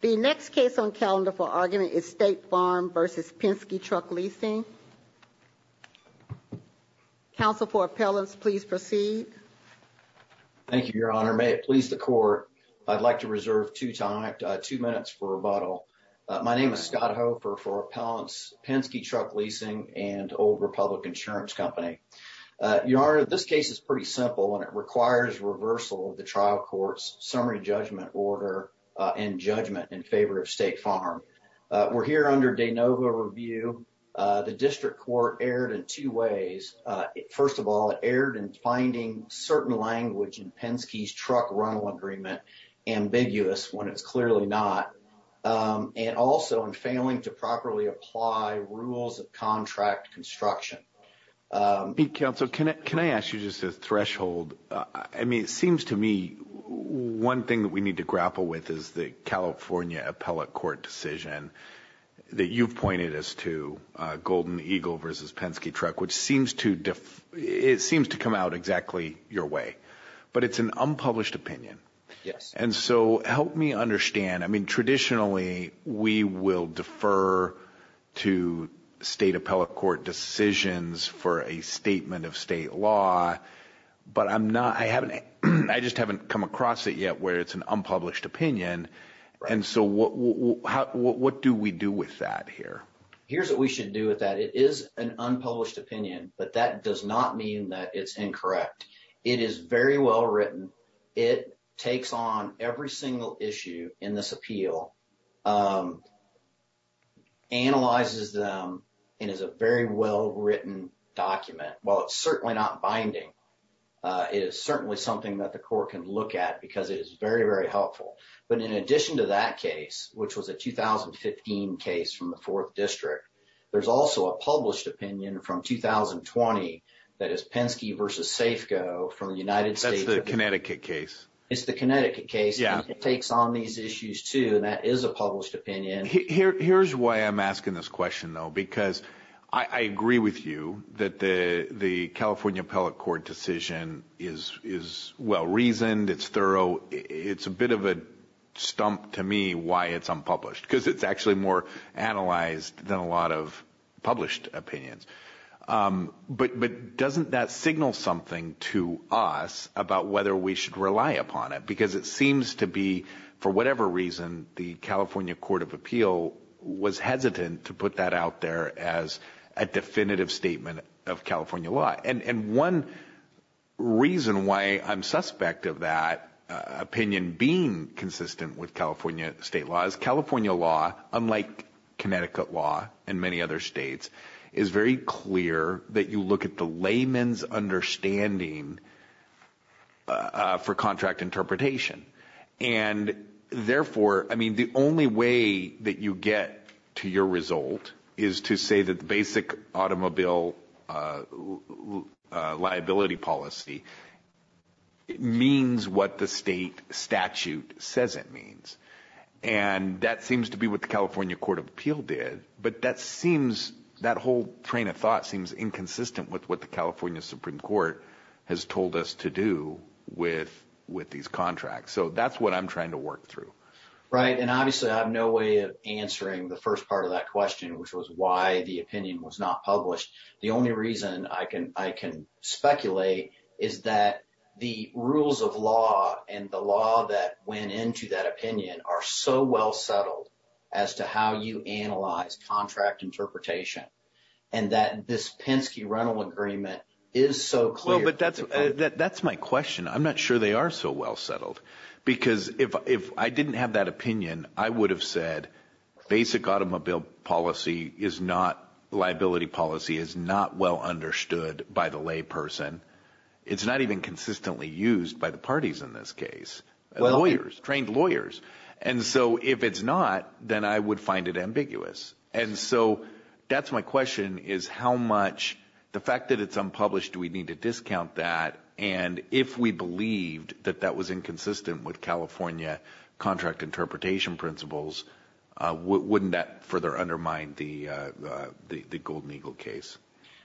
The next case on calendar for argument is State Farm v. Penske Truck Leasing. Counsel for Appellants, please proceed. Thank you, Your Honor. May it please the Court, I'd like to reserve two minutes for rebuttal. My name is Scott Hofer for Appellants, Penske Truck Leasing and Old Republic Insurance Company. Your Honor, this case is pretty simple and it requires reversal of the trial court's summary judgment order and judgment in favor of State Farm. We're here under de novo review. The district court erred in two ways. First of all, it erred in finding certain language in Penske's truck rental agreement ambiguous when it's clearly not, and also in failing to properly apply rules of contract construction. Me, Counsel, can I ask you just a threshold? I mean, it seems to me one thing that we need to grapple with is the California appellate court decision that you've pointed us to, Golden Eagle v. Penske Truck, which seems to come out exactly your way, but it's an unpublished opinion. And so help me understand. I mean, traditionally, we will defer to state appellate court decisions for a statement of state law, but I just haven't come across it yet where it's an unpublished opinion. And so what do we do with that here? Here's what we should do with that. It is an unpublished opinion, but that does not mean that it's incorrect. It is very well written. It takes on every single issue in this appeal, analyzes them, and is a very well written document. While it's certainly not binding, it is certainly something that the court can look at because it is very, very helpful. But in addition to that case, which was a 2015 case from the 4th District, there's also a published opinion from 2020 that is Penske v. Safeco from the United States. The Connecticut case. It's the Connecticut case. It takes on these issues, too, and that is a published opinion. Here's why I'm asking this question, though, because I agree with you that the California appellate court decision is well reasoned. It's thorough. It's a bit of a stump to me why it's unpublished because it's actually more analyzed than a lot of published opinions. But doesn't that signal something to us about whether we should rely upon it? Because it seems to be, for whatever reason, the California Court of Appeal was hesitant to put that out there as a definitive statement of California law. And one reason why I'm suspect of that opinion being consistent with California state law is California law, unlike Connecticut law and many other states, is very clear that you look at the layman's understanding for contract interpretation. And therefore, I mean, the only way that you get to your result is to say that the basic automobile liability policy means what the state statute says it means. And that seems to be what the California Court of Appeal did. But that whole train of thought seems inconsistent with what the California Supreme Court has told us to do with these contracts. So that's what I'm trying to work through. Right. And obviously, I have no way of answering the first part of that question, which was why the opinion was not published. The only reason I can speculate is that the rules of law and the law that went into that opinion are so well settled as to how you analyze contract interpretation and that this Penske-Reynold agreement is so clear. Well, but that's my question. I'm not sure they are so well settled because if I didn't have that opinion, I would have said basic automobile policy is not liability policy is not well understood by the layperson. It's not even consistently used by the parties in this case. Lawyers, trained lawyers. And so if it's not, then I would find it ambiguous. And so that's my question is how much the fact that it's unpublished, do we need to discount that? And if we believed that that was inconsistent with California contract interpretation principles, wouldn't that further undermine the Golden Eagle case?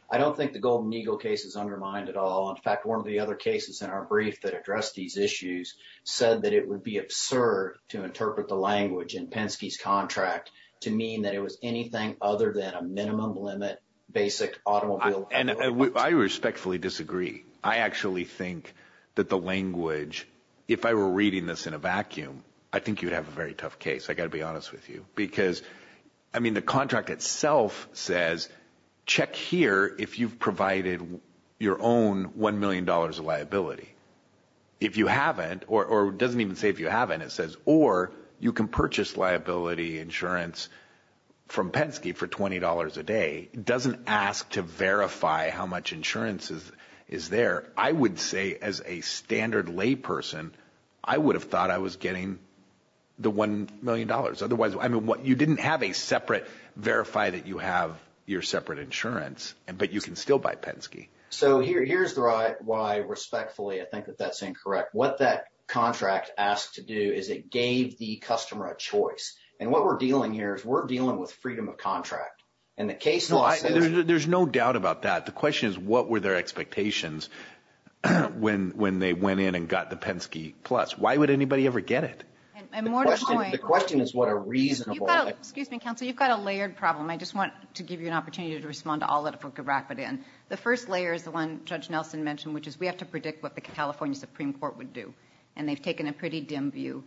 I don't think the Golden Eagle case is undermined at all. In fact, one of the other cases in our brief that addressed these issues said that it would be absurd to interpret the language in Penske's contract to mean that it was anything other than a minimum limit, basic automobile. And I respectfully disagree. I actually think that the language, if I were reading this in a vacuum, I think you'd have a very tough case. I got to be honest with you, because I mean, the contract itself says, check here if you've provided your own one million dollars of liability. If you haven't or doesn't even say if you haven't, it says, or you can purchase liability insurance from Penske for twenty dollars a day, doesn't ask to verify how much insurance is there. I would say as a standard lay person, I would have thought I was getting the one million dollars. Otherwise, I mean, you didn't have a separate verify that you have your separate insurance, but you can still buy Penske. So here's why respectfully, I think that that's incorrect. What that contract asked to do is it gave the customer a choice. And what we're dealing here is we're dealing with freedom of contract and the case law. There's no doubt about that. The question is, what were their expectations when they went in and got the Penske Plus? Why would anybody ever get it? And more to the point. The question is what a reasonable. Excuse me, counsel. You've got a layered problem. I just want to give you an opportunity to respond to all that if we could wrap it in. The first layer is the one Judge Nelson mentioned, which is we have to predict what the California Supreme Court would do. And they've taken a pretty dim view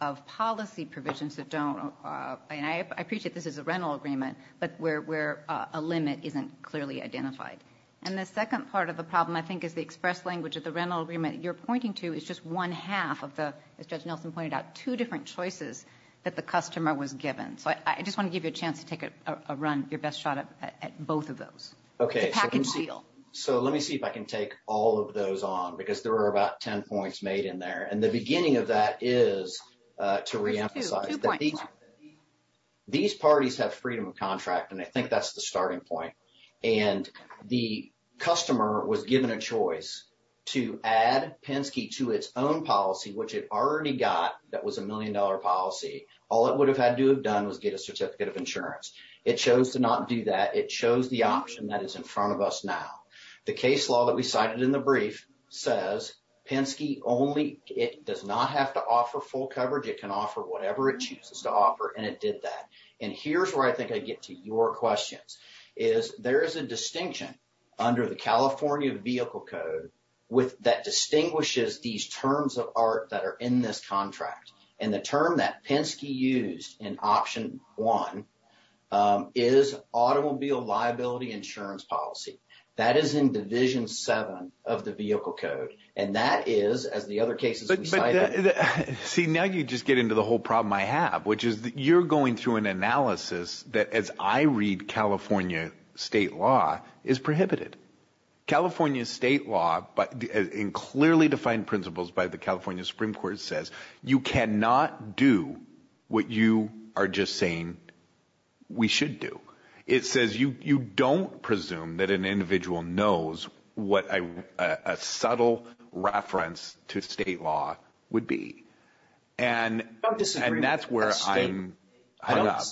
of policy provisions that don't and I appreciate this is a rental agreement, but where a limit isn't clearly identified. And the second part of the problem, I think, is the express language of the rental agreement you're pointing to is just one half of the, as Judge Nelson pointed out, two different choices that the customer was given. So I just want to give you a chance to take a run, your best shot at both of those. OK. So let me see if I can take all of those on because there are about 10 points made in there. And the beginning of that is to reemphasize that these parties have freedom of contract. And I think that's the starting point. And the customer was given a choice to add Penske to its own policy, which it already got, that was a million dollar policy. All it would have had to have done was get a certificate of insurance. It chose to not do that. It chose the option that is in front of us now. The case law that we cited in the brief says Penske only, it does not have to offer full coverage. It can offer whatever it chooses to offer. And it did that. And here's where I think I get to your questions is there is a distinction under the California Vehicle Code that distinguishes these terms of art that are in this contract. And the term that Penske used in option one is automobile liability insurance policy. That is in Division 7 of the Vehicle Code. And that is, as the other cases we cited. But see, now you just get into the whole problem I have, which is that you're going through an analysis that, as I read California state law, is prohibited. California state law, in clearly defined principles by the California Supreme Court, says you cannot do what you are just saying we should do. It says you don't presume that an individual knows what a subtle reference to state law would be. And that's where I'm hung up.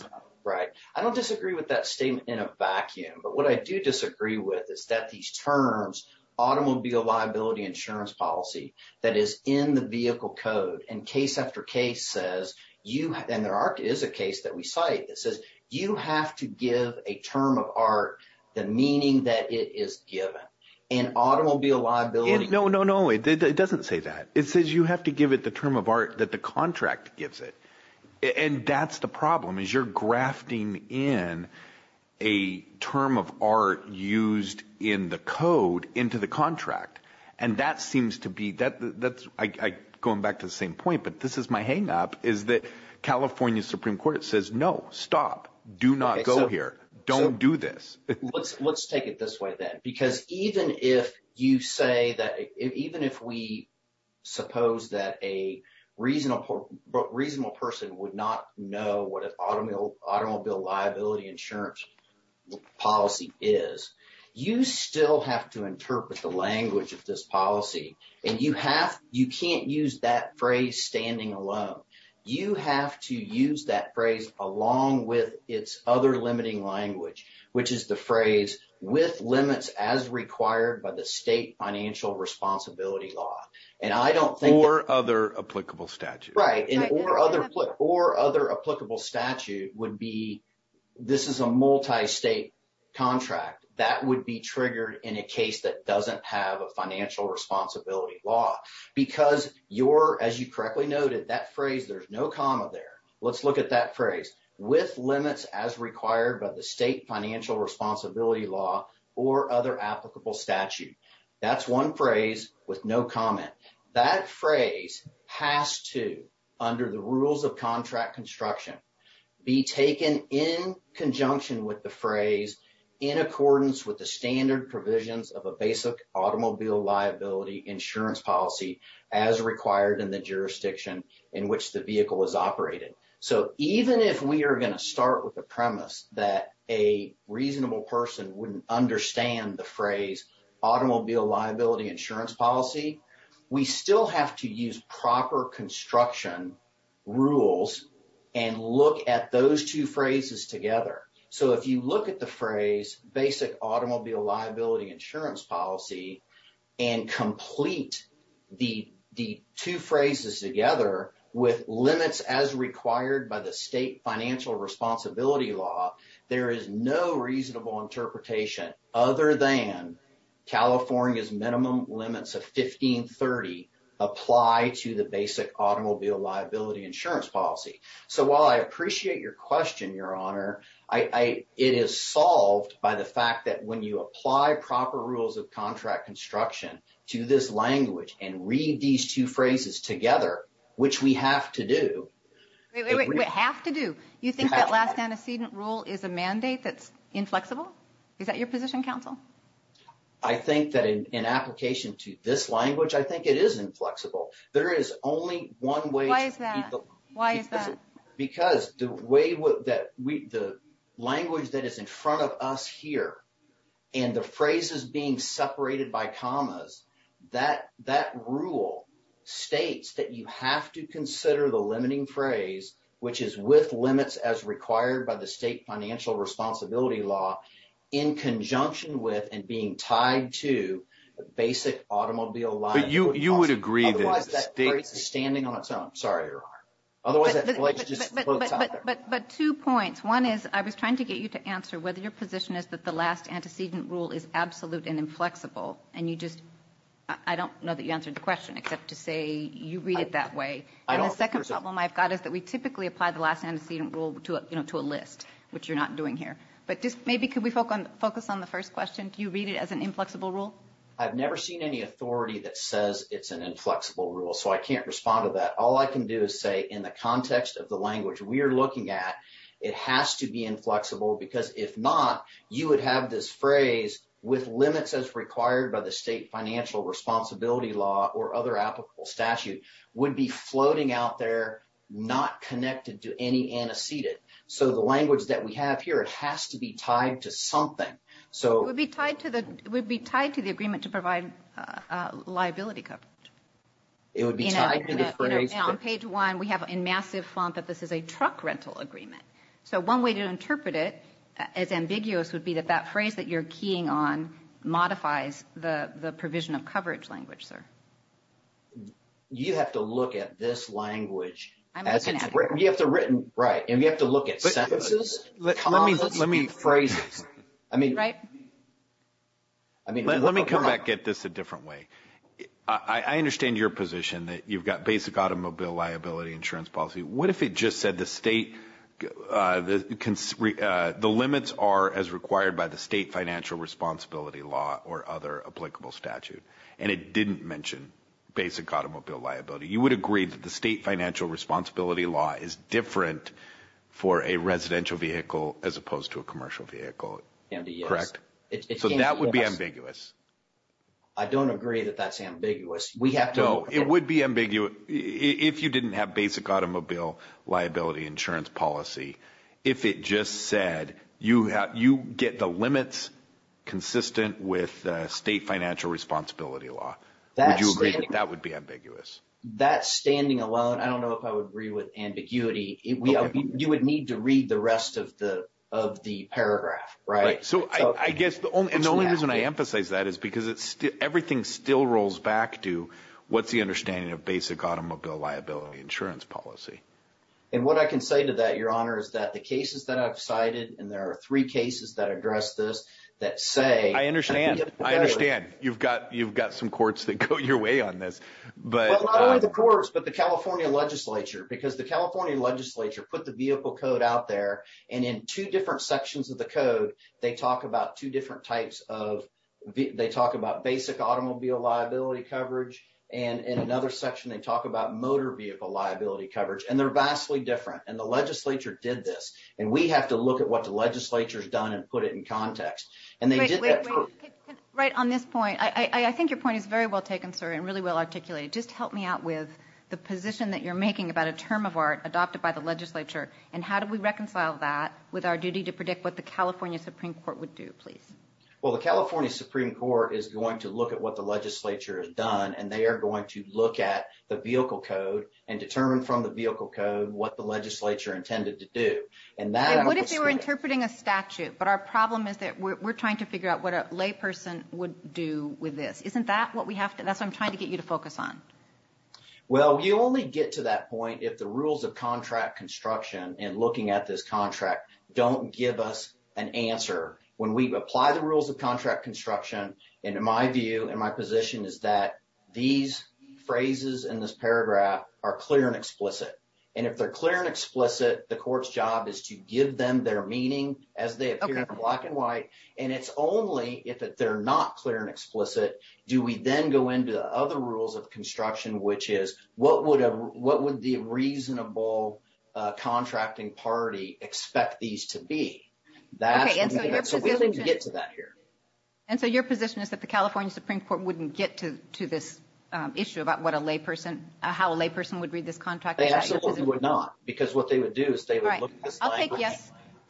I don't disagree with that statement in a vacuum. But what I do disagree with is that these terms, automobile liability insurance policy, that is in the Vehicle Code. And case after case says, and there is a case that we cite that says you have to give a term of art the meaning that it is given. In automobile liability. No, no, no. It doesn't say that. It says you have to give it the term of art that the contract gives it. And that's the problem, is you're grafting in a term of art used in the code into the contract. And that seems to be, I'm going back to the same point, but this is my hang up, is that California Supreme Court says, no, stop. Do not go here. Don't do this. Let's take it this way then. Because even if you say that, even if we suppose that a reasonable person would not know what an automobile liability insurance policy is, you still have to interpret the language of this policy. And you can't use that phrase standing alone. You have to use that phrase along with its other limiting language, which is the phrase, with limits as required by the state financial responsibility law. And I don't think- Or other applicable statute. Right. Or other applicable statute would be, this is a multi-state contract. That would be triggered in a case that doesn't have a financial responsibility law. Because your, as you correctly noted, that phrase, there's no comma there. Let's look at that phrase. With limits as required by the state financial responsibility law or other applicable statute. That's one phrase with no comment. That phrase has to, under the rules of contract construction, be taken in conjunction with the phrase in accordance with the standard provisions of a basic automobile liability insurance policy as required in the jurisdiction in which the vehicle is operated. So even if we are going to start with the premise that a reasonable person wouldn't understand the policy, we still have to use proper construction rules and look at those two phrases together. So if you look at the phrase basic automobile liability insurance policy and complete the two phrases together with limits as required by the state financial responsibility law, there is no reasonable interpretation other than California's minimum limits of 1530 apply to the basic automobile liability insurance policy. So while I appreciate your question, Your Honor, it is solved by the fact that when you apply proper rules of contract construction to this language and read these two phrases together, which we have to do- Is a mandate that's inflexible? Is that your position, counsel? I think that in application to this language, I think it is inflexible. There is only one way- Why is that? Why is that? Because the way that we, the language that is in front of us here and the phrases being separated by commas, that rule states that you have to consider the limiting phrase, which is with the state financial responsibility law in conjunction with and being tied to the basic automobile liability policy. But you would agree that- Otherwise that phrase is standing on its own. Sorry, Your Honor. Otherwise that language just floats out there. But two points. One is I was trying to get you to answer whether your position is that the last antecedent rule is absolute and inflexible. And you just, I don't know that you answered the question except to say you read it that way. And the second problem I've got is that we typically apply the last antecedent rule to, you know, to a list, which you're not doing here. But just maybe could we focus on the first question? Do you read it as an inflexible rule? I've never seen any authority that says it's an inflexible rule, so I can't respond to that. All I can do is say in the context of the language we are looking at, it has to be inflexible because if not, you would have this phrase with limits as required by the state financial responsibility law or other applicable statute would be floating out there, not connected to any antecedent. So the language that we have here, it has to be tied to something. So- It would be tied to the agreement to provide liability coverage. It would be tied to the phrase- On page one, we have in massive font that this is a truck rental agreement. So one way to interpret it as ambiguous would be that that phrase that you're keying on modifies the provision of coverage language, sir. You have to look at this language as- I'm looking at it. You have to written- Right. And you have to look at sentences. Let me- Phrases. I mean- Right. I mean- Let me come back at this a different way. I understand your position that you've got basic automobile liability insurance policy. What if it just said the state, the limits are as required by the state financial responsibility law or other applicable statute. And it didn't mention basic automobile liability. You would agree that the state financial responsibility law is different for a residential vehicle as opposed to a commercial vehicle. Andy, yes. Correct? So that would be ambiguous. I don't agree that that's ambiguous. We have to- No, it would be ambiguous if you didn't have basic automobile liability insurance policy. If it just said you get the limits consistent with state financial responsibility law, would you agree that that would be ambiguous? That standing alone, I don't know if I would agree with ambiguity. You would need to read the rest of the paragraph, right? So I guess the only- And the only reason I emphasize that is because everything still rolls back to what's the understanding of basic automobile liability insurance policy. And what I can say to that, your honor, is that the cases that I've cited, and there are three cases that address this, that say- I understand. I understand. You've got some courts that go your way on this, but- Well, not only the courts, but the California legislature. Because the California legislature put the vehicle code out there. And in two different sections of the code, they talk about two different types of... They talk about basic automobile liability coverage. And in another section, they talk about motor vehicle liability coverage. And they're vastly different. And the legislature did this. And we have to look at what the legislature has done and put it in context. And they did that for- Right on this point. I think your point is very well taken, sir, and really well articulated. Just help me out with the position that you're making about a term of art adopted by the legislature. And how do we reconcile that with our duty to predict what the California Supreme Court would do, please? Well, the California Supreme Court is going to look at what the legislature has done. And they are going to look at the vehicle code and determine from the vehicle code what the legislature intended to do. And that- And what if they were interpreting a statute? But our problem is that we're trying to figure out what a lay person would do with this. Isn't that what we have to... That's what I'm trying to get you to focus on. Well, you only get to that point if the rules of contract construction and looking at this contract don't give us an answer. When we apply the rules of contract construction, and in my view and my position is that these phrases in this paragraph are clear and explicit. And if they're clear and explicit, the court's job is to give them their meaning as they appear in black and white. And it's only if they're not clear and explicit, do we then go into the other rules of construction, which is what would the reasonable contracting party expect these to be? That's what we need to get to that here. And so your position is that the California Supreme Court wouldn't get to this issue about what a lay person, how a lay person would read this contract? They absolutely would not. Because what they would do is they would look at this language.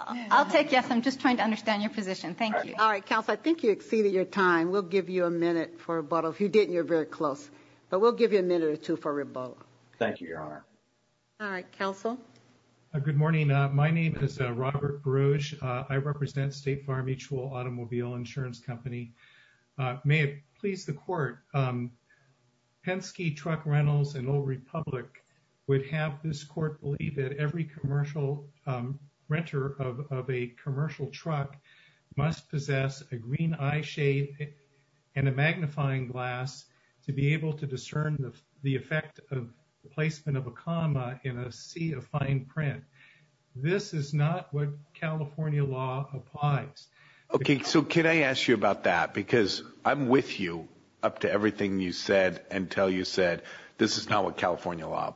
I'll take yes. I'm just trying to understand your position. Thank you. All right, counsel. I think you exceeded your time. We'll give you a minute for rebuttal. If you didn't, you're very close. But we'll give you a minute or two for rebuttal. Thank you, Your Honor. All right, counsel. Good morning. My name is Robert Brosh. I represent State Farm Mutual Automobile Insurance Company. May it please the court. Penske Truck Rentals and Old Republic would have this court believe that every commercial renter of a commercial truck must possess a green eye shade and a fine print. This is not what California law applies. Okay. So can I ask you about that? Because I'm with you up to everything you said until you said this is not what California law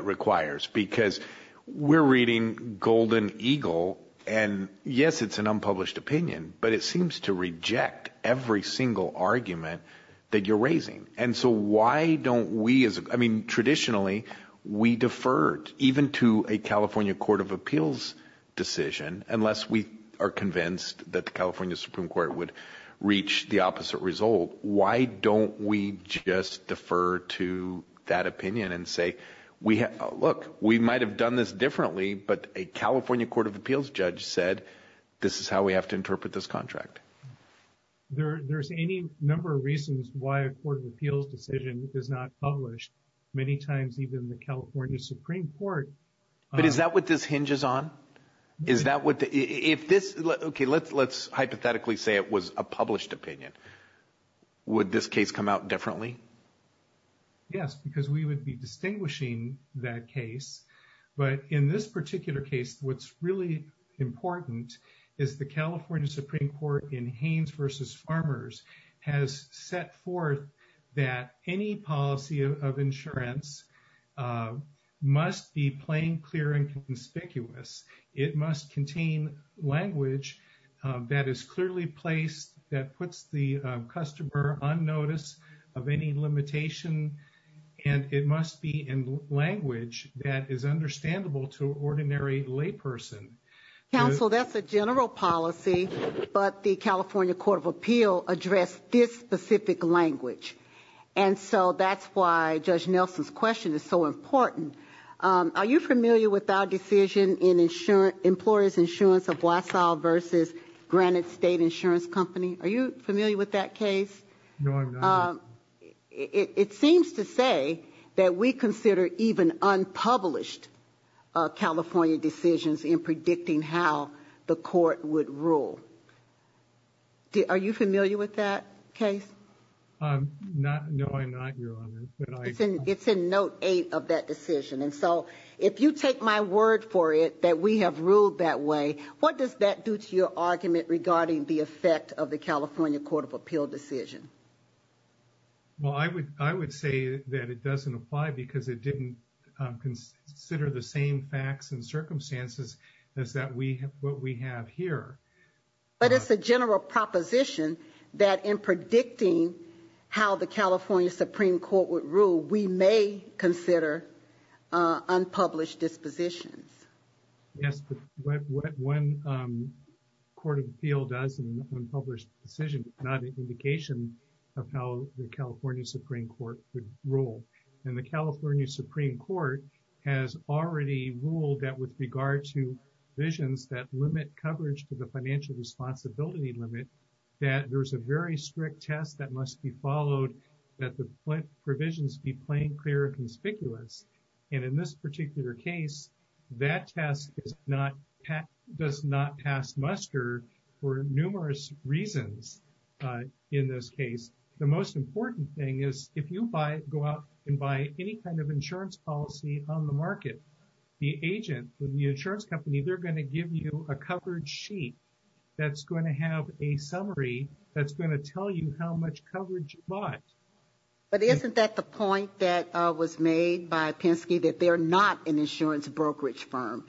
requires because we're reading Golden Eagle. And yes, it's an unpublished opinion, but it seems to reject every single argument that you're raising. And so why don't we, I mean, traditionally, we deferred even to a California Court of Appeals decision, unless we are convinced that the California Supreme Court would reach the opposite result. Why don't we just defer to that opinion and say, look, we might have done this differently, but a California Court of Appeals judge said, this is how we have to interpret this contract. There's any number of reasons why a Court of Appeals decision is not published many times, even the California Supreme Court. But is that what this hinges on? Is that what, if this, okay, let's hypothetically say it was a published opinion. Would this case come out differently? Yes, because we would be distinguishing that case. But in this particular case, what's really important is the California Supreme Court in Haynes versus Farmers has set forth that any policy of insurance must be plain, clear, and conspicuous. It must contain language that is clearly placed, that puts the customer on notice of any limitation. And it must be in language that is understandable to ordinary lay person. Counsel, that's a general policy, but the California Court of Appeal addressed this specific language. And so that's why Judge Nelson's question is so important. Are you familiar with our decision in employer's insurance of Wausau versus Granite State Insurance Company? Are you familiar with that case? No, I'm not. It seems to say that we consider even unpublished California decisions in predicting how the court would rule. Are you familiar with that case? No, I'm not, Your Honor. It's in note eight of that decision. And so if you take my word for it, that we have ruled that way, what does that do to your argument regarding the effect of the decision? Well, I would say that it doesn't apply because it didn't consider the same facts and circumstances as what we have here. But it's a general proposition that in predicting how the California Supreme Court would rule, we may consider unpublished dispositions. Yes, but what one Court of Appeal does in an unpublished decision is not an indication of how the California Supreme Court would rule. And the California Supreme Court has already ruled that with regard to visions that limit coverage to the financial responsibility limit, that there's a very strict test that must be followed, that the provisions be plain, clear and conspicuous. And in this particular case, that test does not pass muster for numerous reasons. In this case, the most important thing is if you go out and buy any kind of insurance policy on the market, the agent, the insurance company, they're going to give you a coverage sheet that's going to have a summary that's going to tell you how much coverage you bought. But isn't that the point that was made by Penske, that they're not an insurance brokerage firm,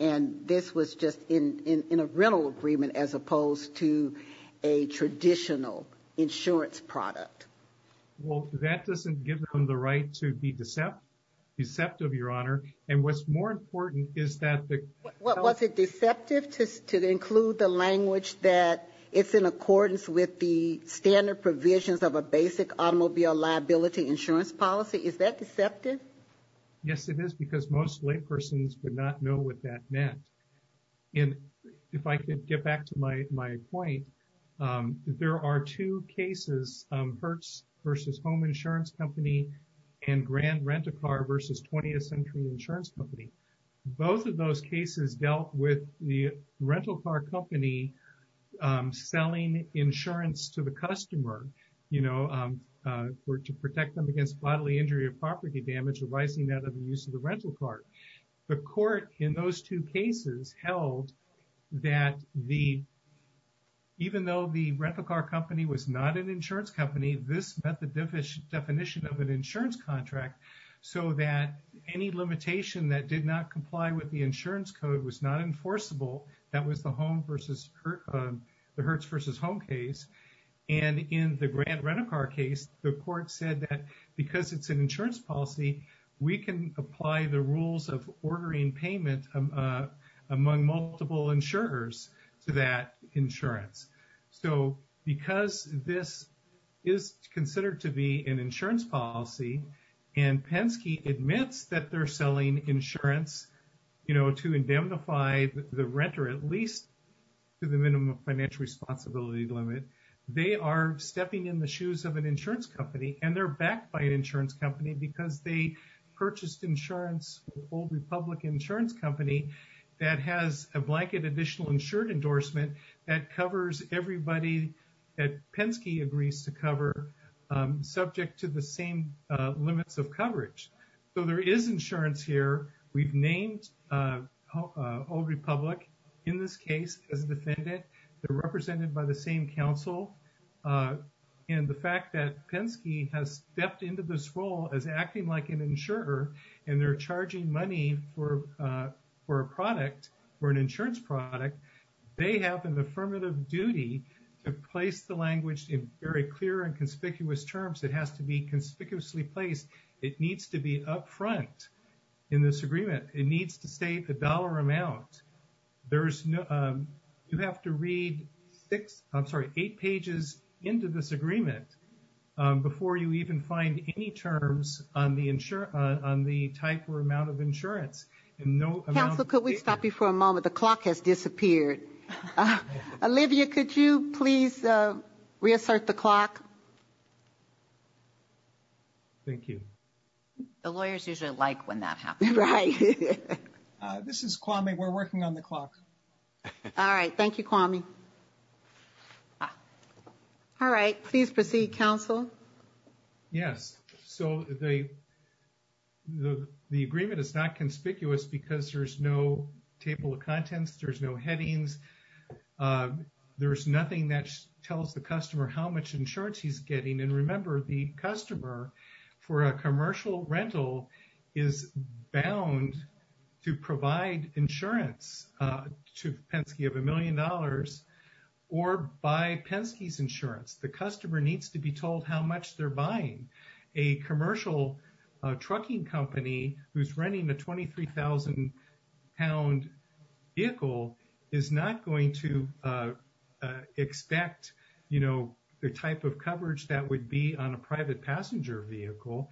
and this was just in a rental agreement as opposed to a traditional insurance product? Well, that doesn't give them the right to be deceptive, Your Honor. And what's more important is that... Was it deceptive to include the language that it's in accordance with the liability insurance policy? Is that deceptive? Yes, it is, because most laypersons would not know what that meant. And if I could get back to my point, there are two cases, Hertz versus Home Insurance Company and Grand Rent-A-Car versus 20th Century Insurance Company. Both of those were to protect them against bodily injury or property damage arising out of the use of the rental car. The court in those two cases held that even though the rental car company was not an insurance company, this met the definition of an insurance contract so that any limitation that did not comply with the insurance code was not enforceable. That was the Hertz versus Home case. And in the Grand Rent-A-Car case, the court said that because it's an insurance policy, we can apply the rules of ordering payment among multiple insurers to that insurance. So because this is considered to be an insurance policy and Penske admits that they're selling insurance to indemnify the renter, at least to the minimum financial responsibility limit, they are stepping in the shoes of an insurance company and they're backed by an insurance company because they purchased insurance with Old Republic Insurance Company that has a blanket additional insured endorsement that covers everybody that Penske agrees to cover subject to the same limits of coverage. So there is insurance here. We've named Old Republic in this case as a defendant. They're represented by the same counsel. And the fact that Penske has stepped into this role as acting like an insurer and they're charging money for a product, for an insurance product, they have an affirmative duty to place the language in very clear and conspicuous terms. It has to be conspicuously placed. It needs to be upfront in this agreement. It needs to the dollar amount. There's no, you have to read six, I'm sorry, eight pages into this agreement before you even find any terms on the type or amount of insurance. And no amount- Counsel, could we stop you for a moment? The clock has disappeared. Olivia, could you please reassert the clock? Thank you. The lawyers usually like when that happens. Right. This is Kwame. We're working on the clock. All right. Thank you, Kwame. All right. Please proceed, counsel. Yes. So the agreement is not conspicuous because there's no table of contents. There's no headings. There's nothing that tells the customer how much insurance he's getting. And remember, the customer for a commercial rental is bound to provide insurance to Penske of a million dollars or buy Penske's insurance. The customer needs to be told how much they're buying. A commercial trucking company who's renting a 23,000-pound vehicle is not going to expect the type of coverage that would be on a private passenger vehicle.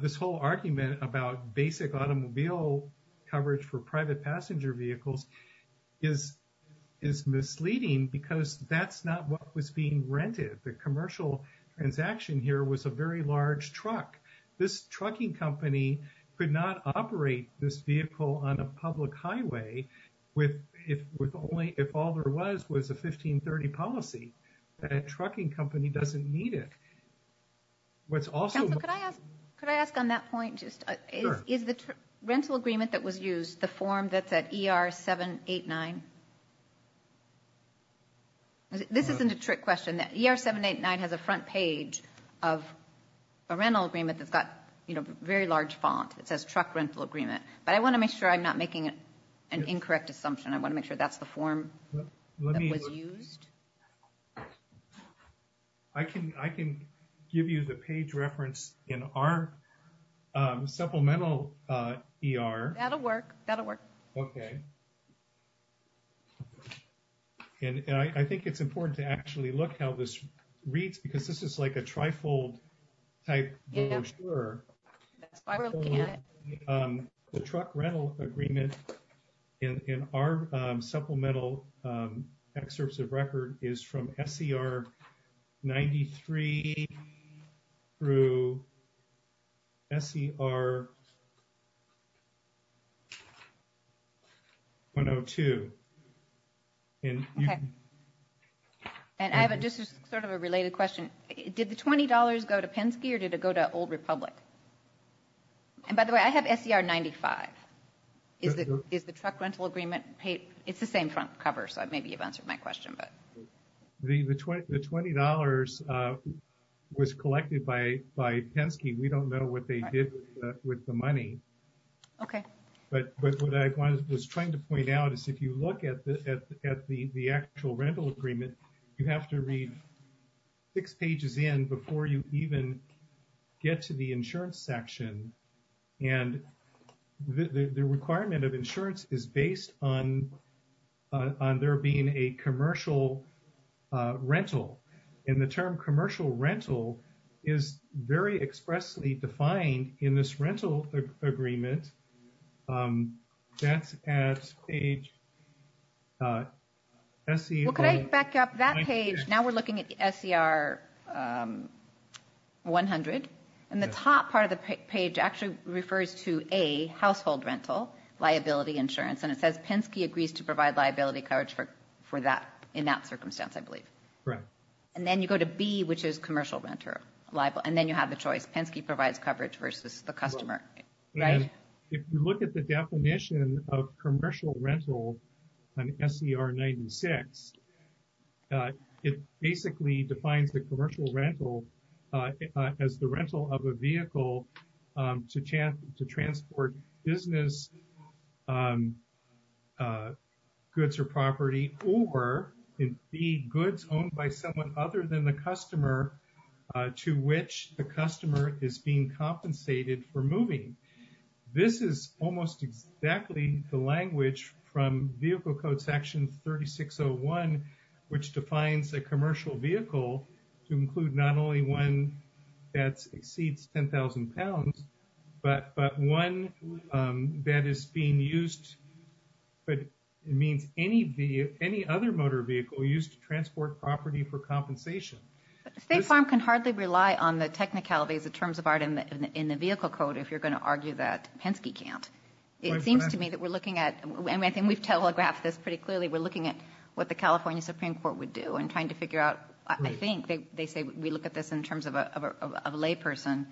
This whole argument about basic automobile coverage for private passenger vehicles is misleading because that's not what was being rented. The commercial transaction here was a very large truck. This trucking company could not operate this vehicle on a public highway with only, if all there was, was a 1530 policy. That trucking company doesn't need it. What's also... Counsel, could I ask on that point just... Sure. Is the rental agreement that was used the form that's at ER-789? This isn't a trick question. ER-789 has a front page of a rental agreement that's got, you know, very large font. It says truck rental agreement. But I want to make sure I'm not making an incorrect assumption. I want to make sure that's the form that was used. I can give you the page reference in our supplemental ER. That'll work. That'll work. Okay. And I think it's important to actually look how this reads because this is like a trifold type brochure. That's why we're looking at it. The truck rental agreement in our supplemental excerpts of record is from SCR-93 through SCR-102. And I have just sort of a related question. Did the $20 go to Penske or did it go to Old Republic? And by the way, I have SCR-95. Is the truck rental agreement paid? It's the same front cover, so maybe you've answered my question, but... The $20 was collected by Penske. We don't know what they did with the money. Okay. But what I was trying to point out is if you look at the actual rental agreement, you have to read six pages in before you even get to the insurance section. And the requirement of insurance is based on there being a commercial rental. And the term commercial rental is very expressly defined in this rental agreement. That's at page SE- Could I back up that page? Now we're looking at the SCR-100. And the top part of the page actually refers to A, household rental, liability insurance. And it says Penske agrees to provide liability coverage for that in that circumstance, I believe. Correct. And then you go to B, which is commercial renter liable. And then you have the choice. Penske provides coverage versus the customer, right? If you look at the definition of commercial rental on SCR-96, it basically defines the commercial rental as the rental of a vehicle to transport business, goods or property, or indeed goods owned by someone other than the customer to which the customer is being compensated for moving. This is almost exactly the language from vehicle code section 3601, which defines a commercial vehicle to include not only one that exceeds 10,000 pounds, but one that is being used, but it means any other motor vehicle used to transport property for compensation. State Farm can hardly rely on the technicalities, the terms of art in the vehicle code if you're going to argue that Penske can't. It seems to me that we're looking at, and I think we've telegraphed this pretty clearly, we're looking at what the California Supreme Court would do in trying to figure out, I think they say we look at this in terms of a layperson.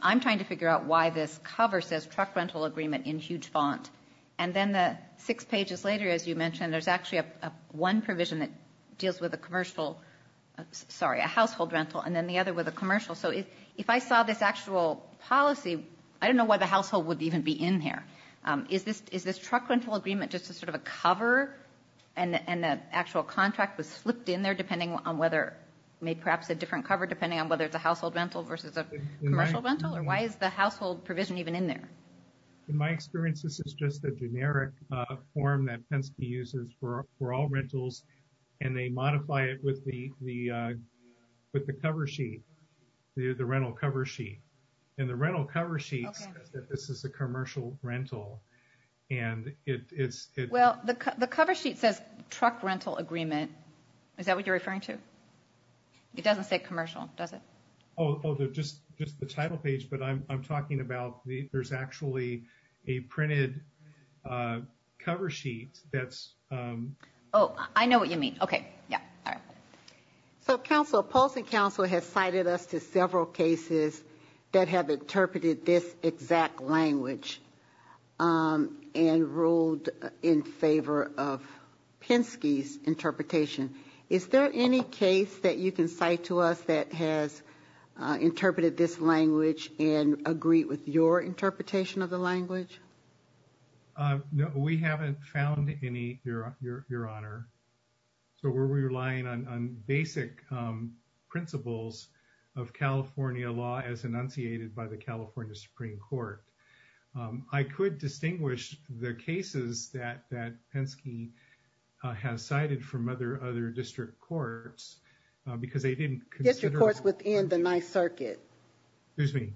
I'm trying to figure out why this cover says truck rental agreement in huge font. And then the six pages later, as you mentioned, there's actually one provision that deals with a commercial, sorry, a household rental, and then the other with a commercial. So if I saw this actual policy, I don't know why the household would even be in there. Is this truck rental agreement just a sort of a cover, and the actual contract was flipped in there depending on whether, maybe perhaps a different cover, depending on whether it's a household rental versus a commercial rental? Or why is the household provision even in there? In my experience, this is just a generic form that Penske uses for all rentals, and they modify it with the cover sheet. The rental cover sheet. And the rental cover sheet says that this is a commercial rental, and it's... Well, the cover sheet says truck rental agreement. Is that what you're referring to? It doesn't say commercial, does it? Oh, just the title page, but I'm talking about, there's actually a printed cover sheet that's... Oh, I know what you mean. Okay, yeah. So, Council, Polson Council has cited us to several cases that have interpreted this exact language and ruled in favor of Penske's interpretation. Is there any case that you can cite to us that has interpreted this language and agreed with your interpretation of the language? No, we haven't found any, Your Honor. So, we're relying on basic principles of California law as enunciated by the California Supreme Court. I could distinguish the cases that Penske has cited from other district courts, because they didn't consider... District courts within the Ninth Circuit. Excuse me?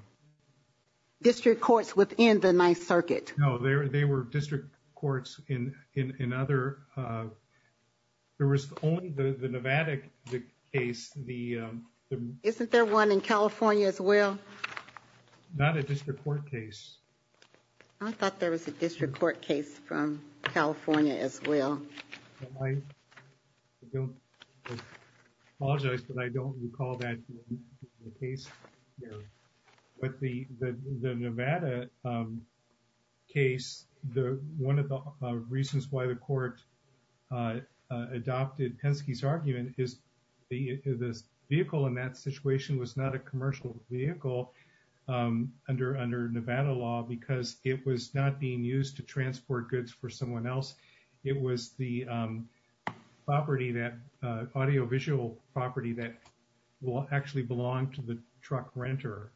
District courts within the Ninth Circuit. No, they were district courts in other... There was only the Nevada case, the... Isn't there one in California as well? Not a district court case. I thought there was a district court case from California as well. I apologize, but I don't recall that case. Yeah. But the Nevada case, one of the reasons why the court adopted Penske's argument is this vehicle in that situation was not a commercial vehicle under Nevada law, because it was not being used to transport goods for someone else. It was the property that... Truck renter.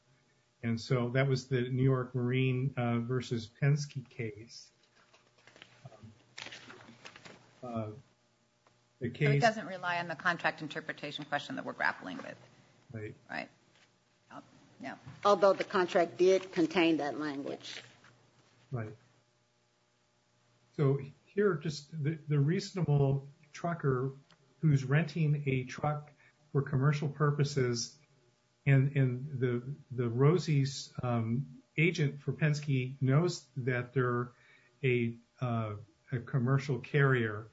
And so, that was the New York Marine versus Penske case. The case... It doesn't rely on the contract interpretation question that we're grappling with. Right. Yeah. Although the contract did contain that language. Right. So, here, just the reasonable trucker who's renting a truck for commercial purposes and the Rosie's agent for Penske knows that they're a commercial carrier.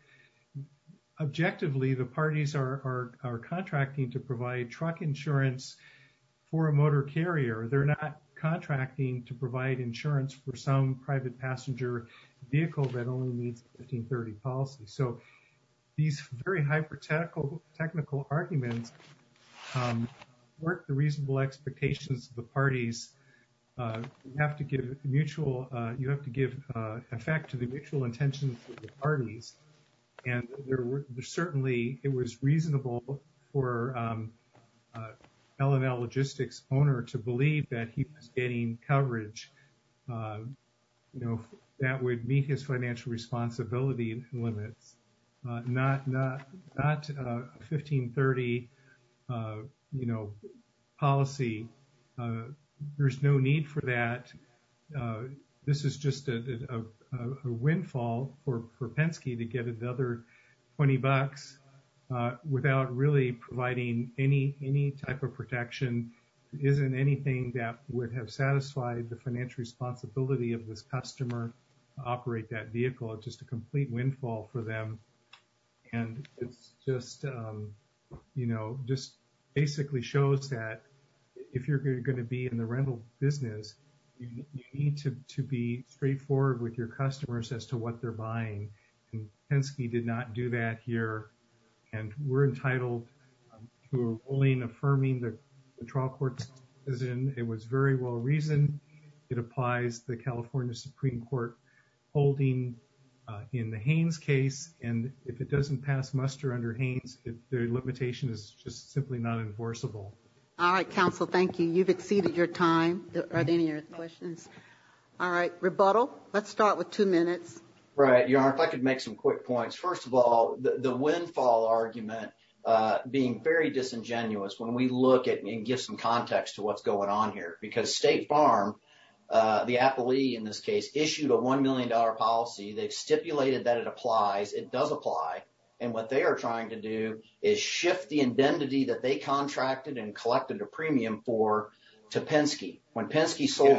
Objectively, the parties are contracting to provide truck insurance for a motor carrier. They're not contracting to provide insurance for some private passenger vehicle that only needs 1530 policy. So, these very hyper technical arguments work the reasonable expectations of the parties. You have to give mutual... You have to give effect to the mutual intentions of the parties. And there were certainly... It was reasonable for L&L Logistics owner to believe that he was getting coverage that would meet his financial responsibility limits, not 1530 policy. There's no need for that. This is just a windfall for Penske to get another 20 bucks without really providing any type of protection. Isn't anything that would have satisfied the financial responsibility of this customer operate that vehicle? It's just a complete windfall for them. And it's just basically shows that if you're going to be in the rental business, you need to be straightforward with your customers as to what they're buying. And Penske did not do that here. And we're entitled to a ruling affirming that the trial court is in. It was very well reasoned. It applies the California Supreme Court holding in the Haynes case. And if it doesn't pass muster under Haynes, the limitation is just simply not enforceable. All right, counsel. Thank you. You've exceeded your time. Are there any other questions? All right, rebuttal. Let's start with two minutes. Right. Your Honor, if I could make some quick points. First of all, the windfall argument being very disingenuous when we look at and give some context to what's going on here. Because State Farm, the appellee in this case, issued a $1 million policy. They've stipulated that it applies. It does apply. And what they are trying to do is shift the indemnity that they contracted and collected a premium for to Penske. When Penske sold-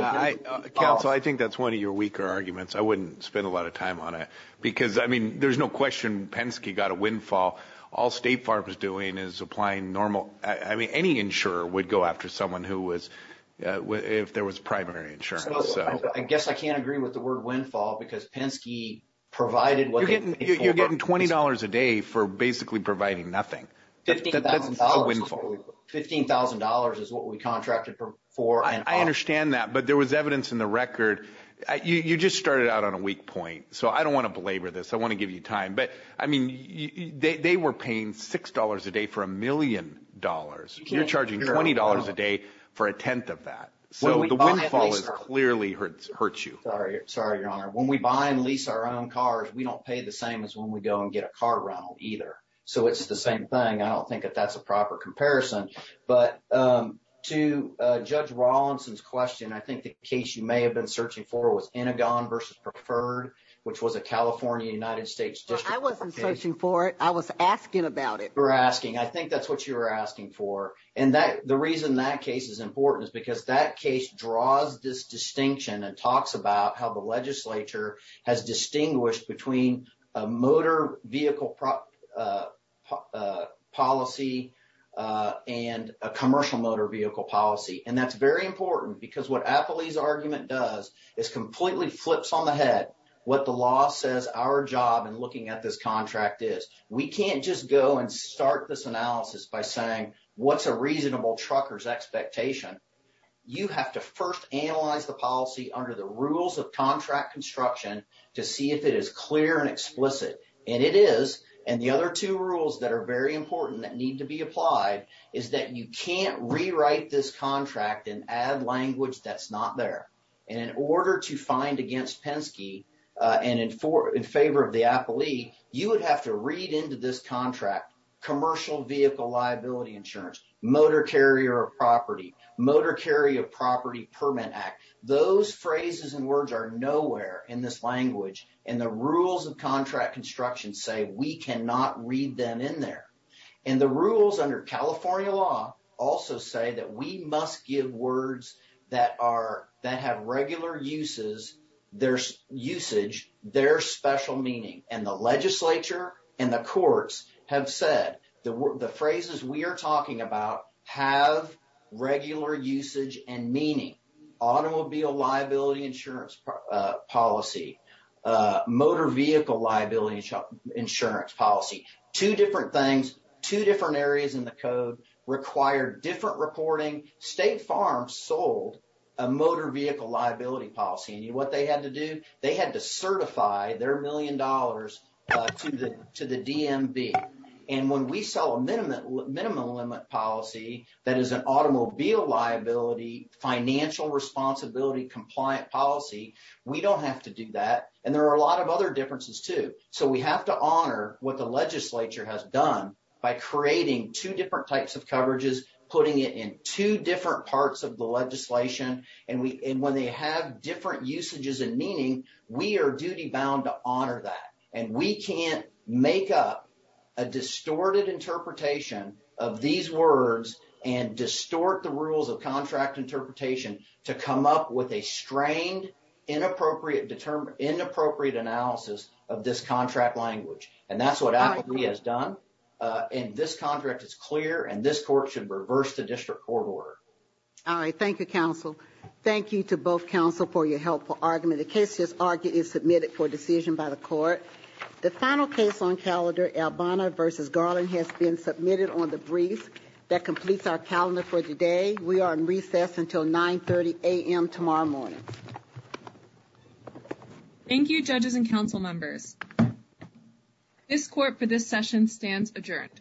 Counsel, I think that's one of your weaker arguments. I wouldn't spend a lot of time on it. Because, I mean, there's no question Penske got a windfall. All State Farm is doing is applying normal- I mean, any insurer would go after someone who was- if there was primary insurance. I guess I can't agree with the word windfall because Penske provided- You're getting $20 a day for basically providing nothing. $15,000 is what we contracted for and- I understand that. But there was evidence in the record. You just started out on a weak point. So I don't want to belabor this. I want to give you time. But, I mean, they were paying $6 a day for a million dollars. You're charging $20 a day for a tenth of that. So the windfall has clearly hurt you. Sorry. Sorry, Your Honor. When we buy and lease our own cars, we don't pay the same as when we go and get a car rental either. So it's the same thing. I don't think that that's a proper comparison. But to Judge Rawlinson's question, I think the case you may have been searching for was a California-United States district- I wasn't searching for it. I was asking about it. You were asking. I think that's what you were asking for. And the reason that case is important is because that case draws this distinction and talks about how the legislature has distinguished between a motor vehicle policy and a commercial motor vehicle policy. And that's very important because what Appley's argument does is completely flips on the head what the law says our job in looking at this contract is. We can't just go and start this analysis by saying what's a reasonable trucker's expectation. You have to first analyze the policy under the rules of contract construction to see if it is clear and explicit. And it is. And the other two rules that are very important that need to be applied is that you can't rewrite this contract and add language that's not there. And in order to find against Penske and in favor of the Appley, you would have to read into this contract commercial vehicle liability insurance, motor carrier of property, motor carrier property permit act. Those phrases and words are nowhere in this language. And the rules of contract construction say we cannot read them in there. And the rules under California law also say that we must give words that have regular uses, their usage, their special meaning. And the legislature and the courts have said the phrases we are talking about have regular usage and meaning. Automobile liability insurance policy, motor vehicle liability insurance policy. Two different things, two different areas in the code require different reporting. State farms sold a motor vehicle liability policy. And you know what they had to do? They had to certify their million dollars to the DMV. And when we sell a minimum limit policy that is an automobile liability financial responsibility compliant policy, we don't have to do that. And there are a lot of other differences too. So we have to honor what the legislature has done by creating two different types of coverages, putting it in two different parts of the legislation. And when they have different usages and meaning, we are duty bound to honor that. And we can't make up a distorted interpretation of these words and distort the rules of contract interpretation to come up with a strained, inappropriate analysis of this contract language. And that's what Appleby has done. And this contract is clear and this court should reverse the district court order. All right. Thank you, counsel. Thank you to both counsel for your helpful argument. The case is submitted for decision by the court. The final case on calendar, Albana v. Garland has been submitted on the brief that completes our calendar for today. We are in recess until 930 a.m. tomorrow morning. Thank you, judges and counsel members. This court for this session stands adjourned.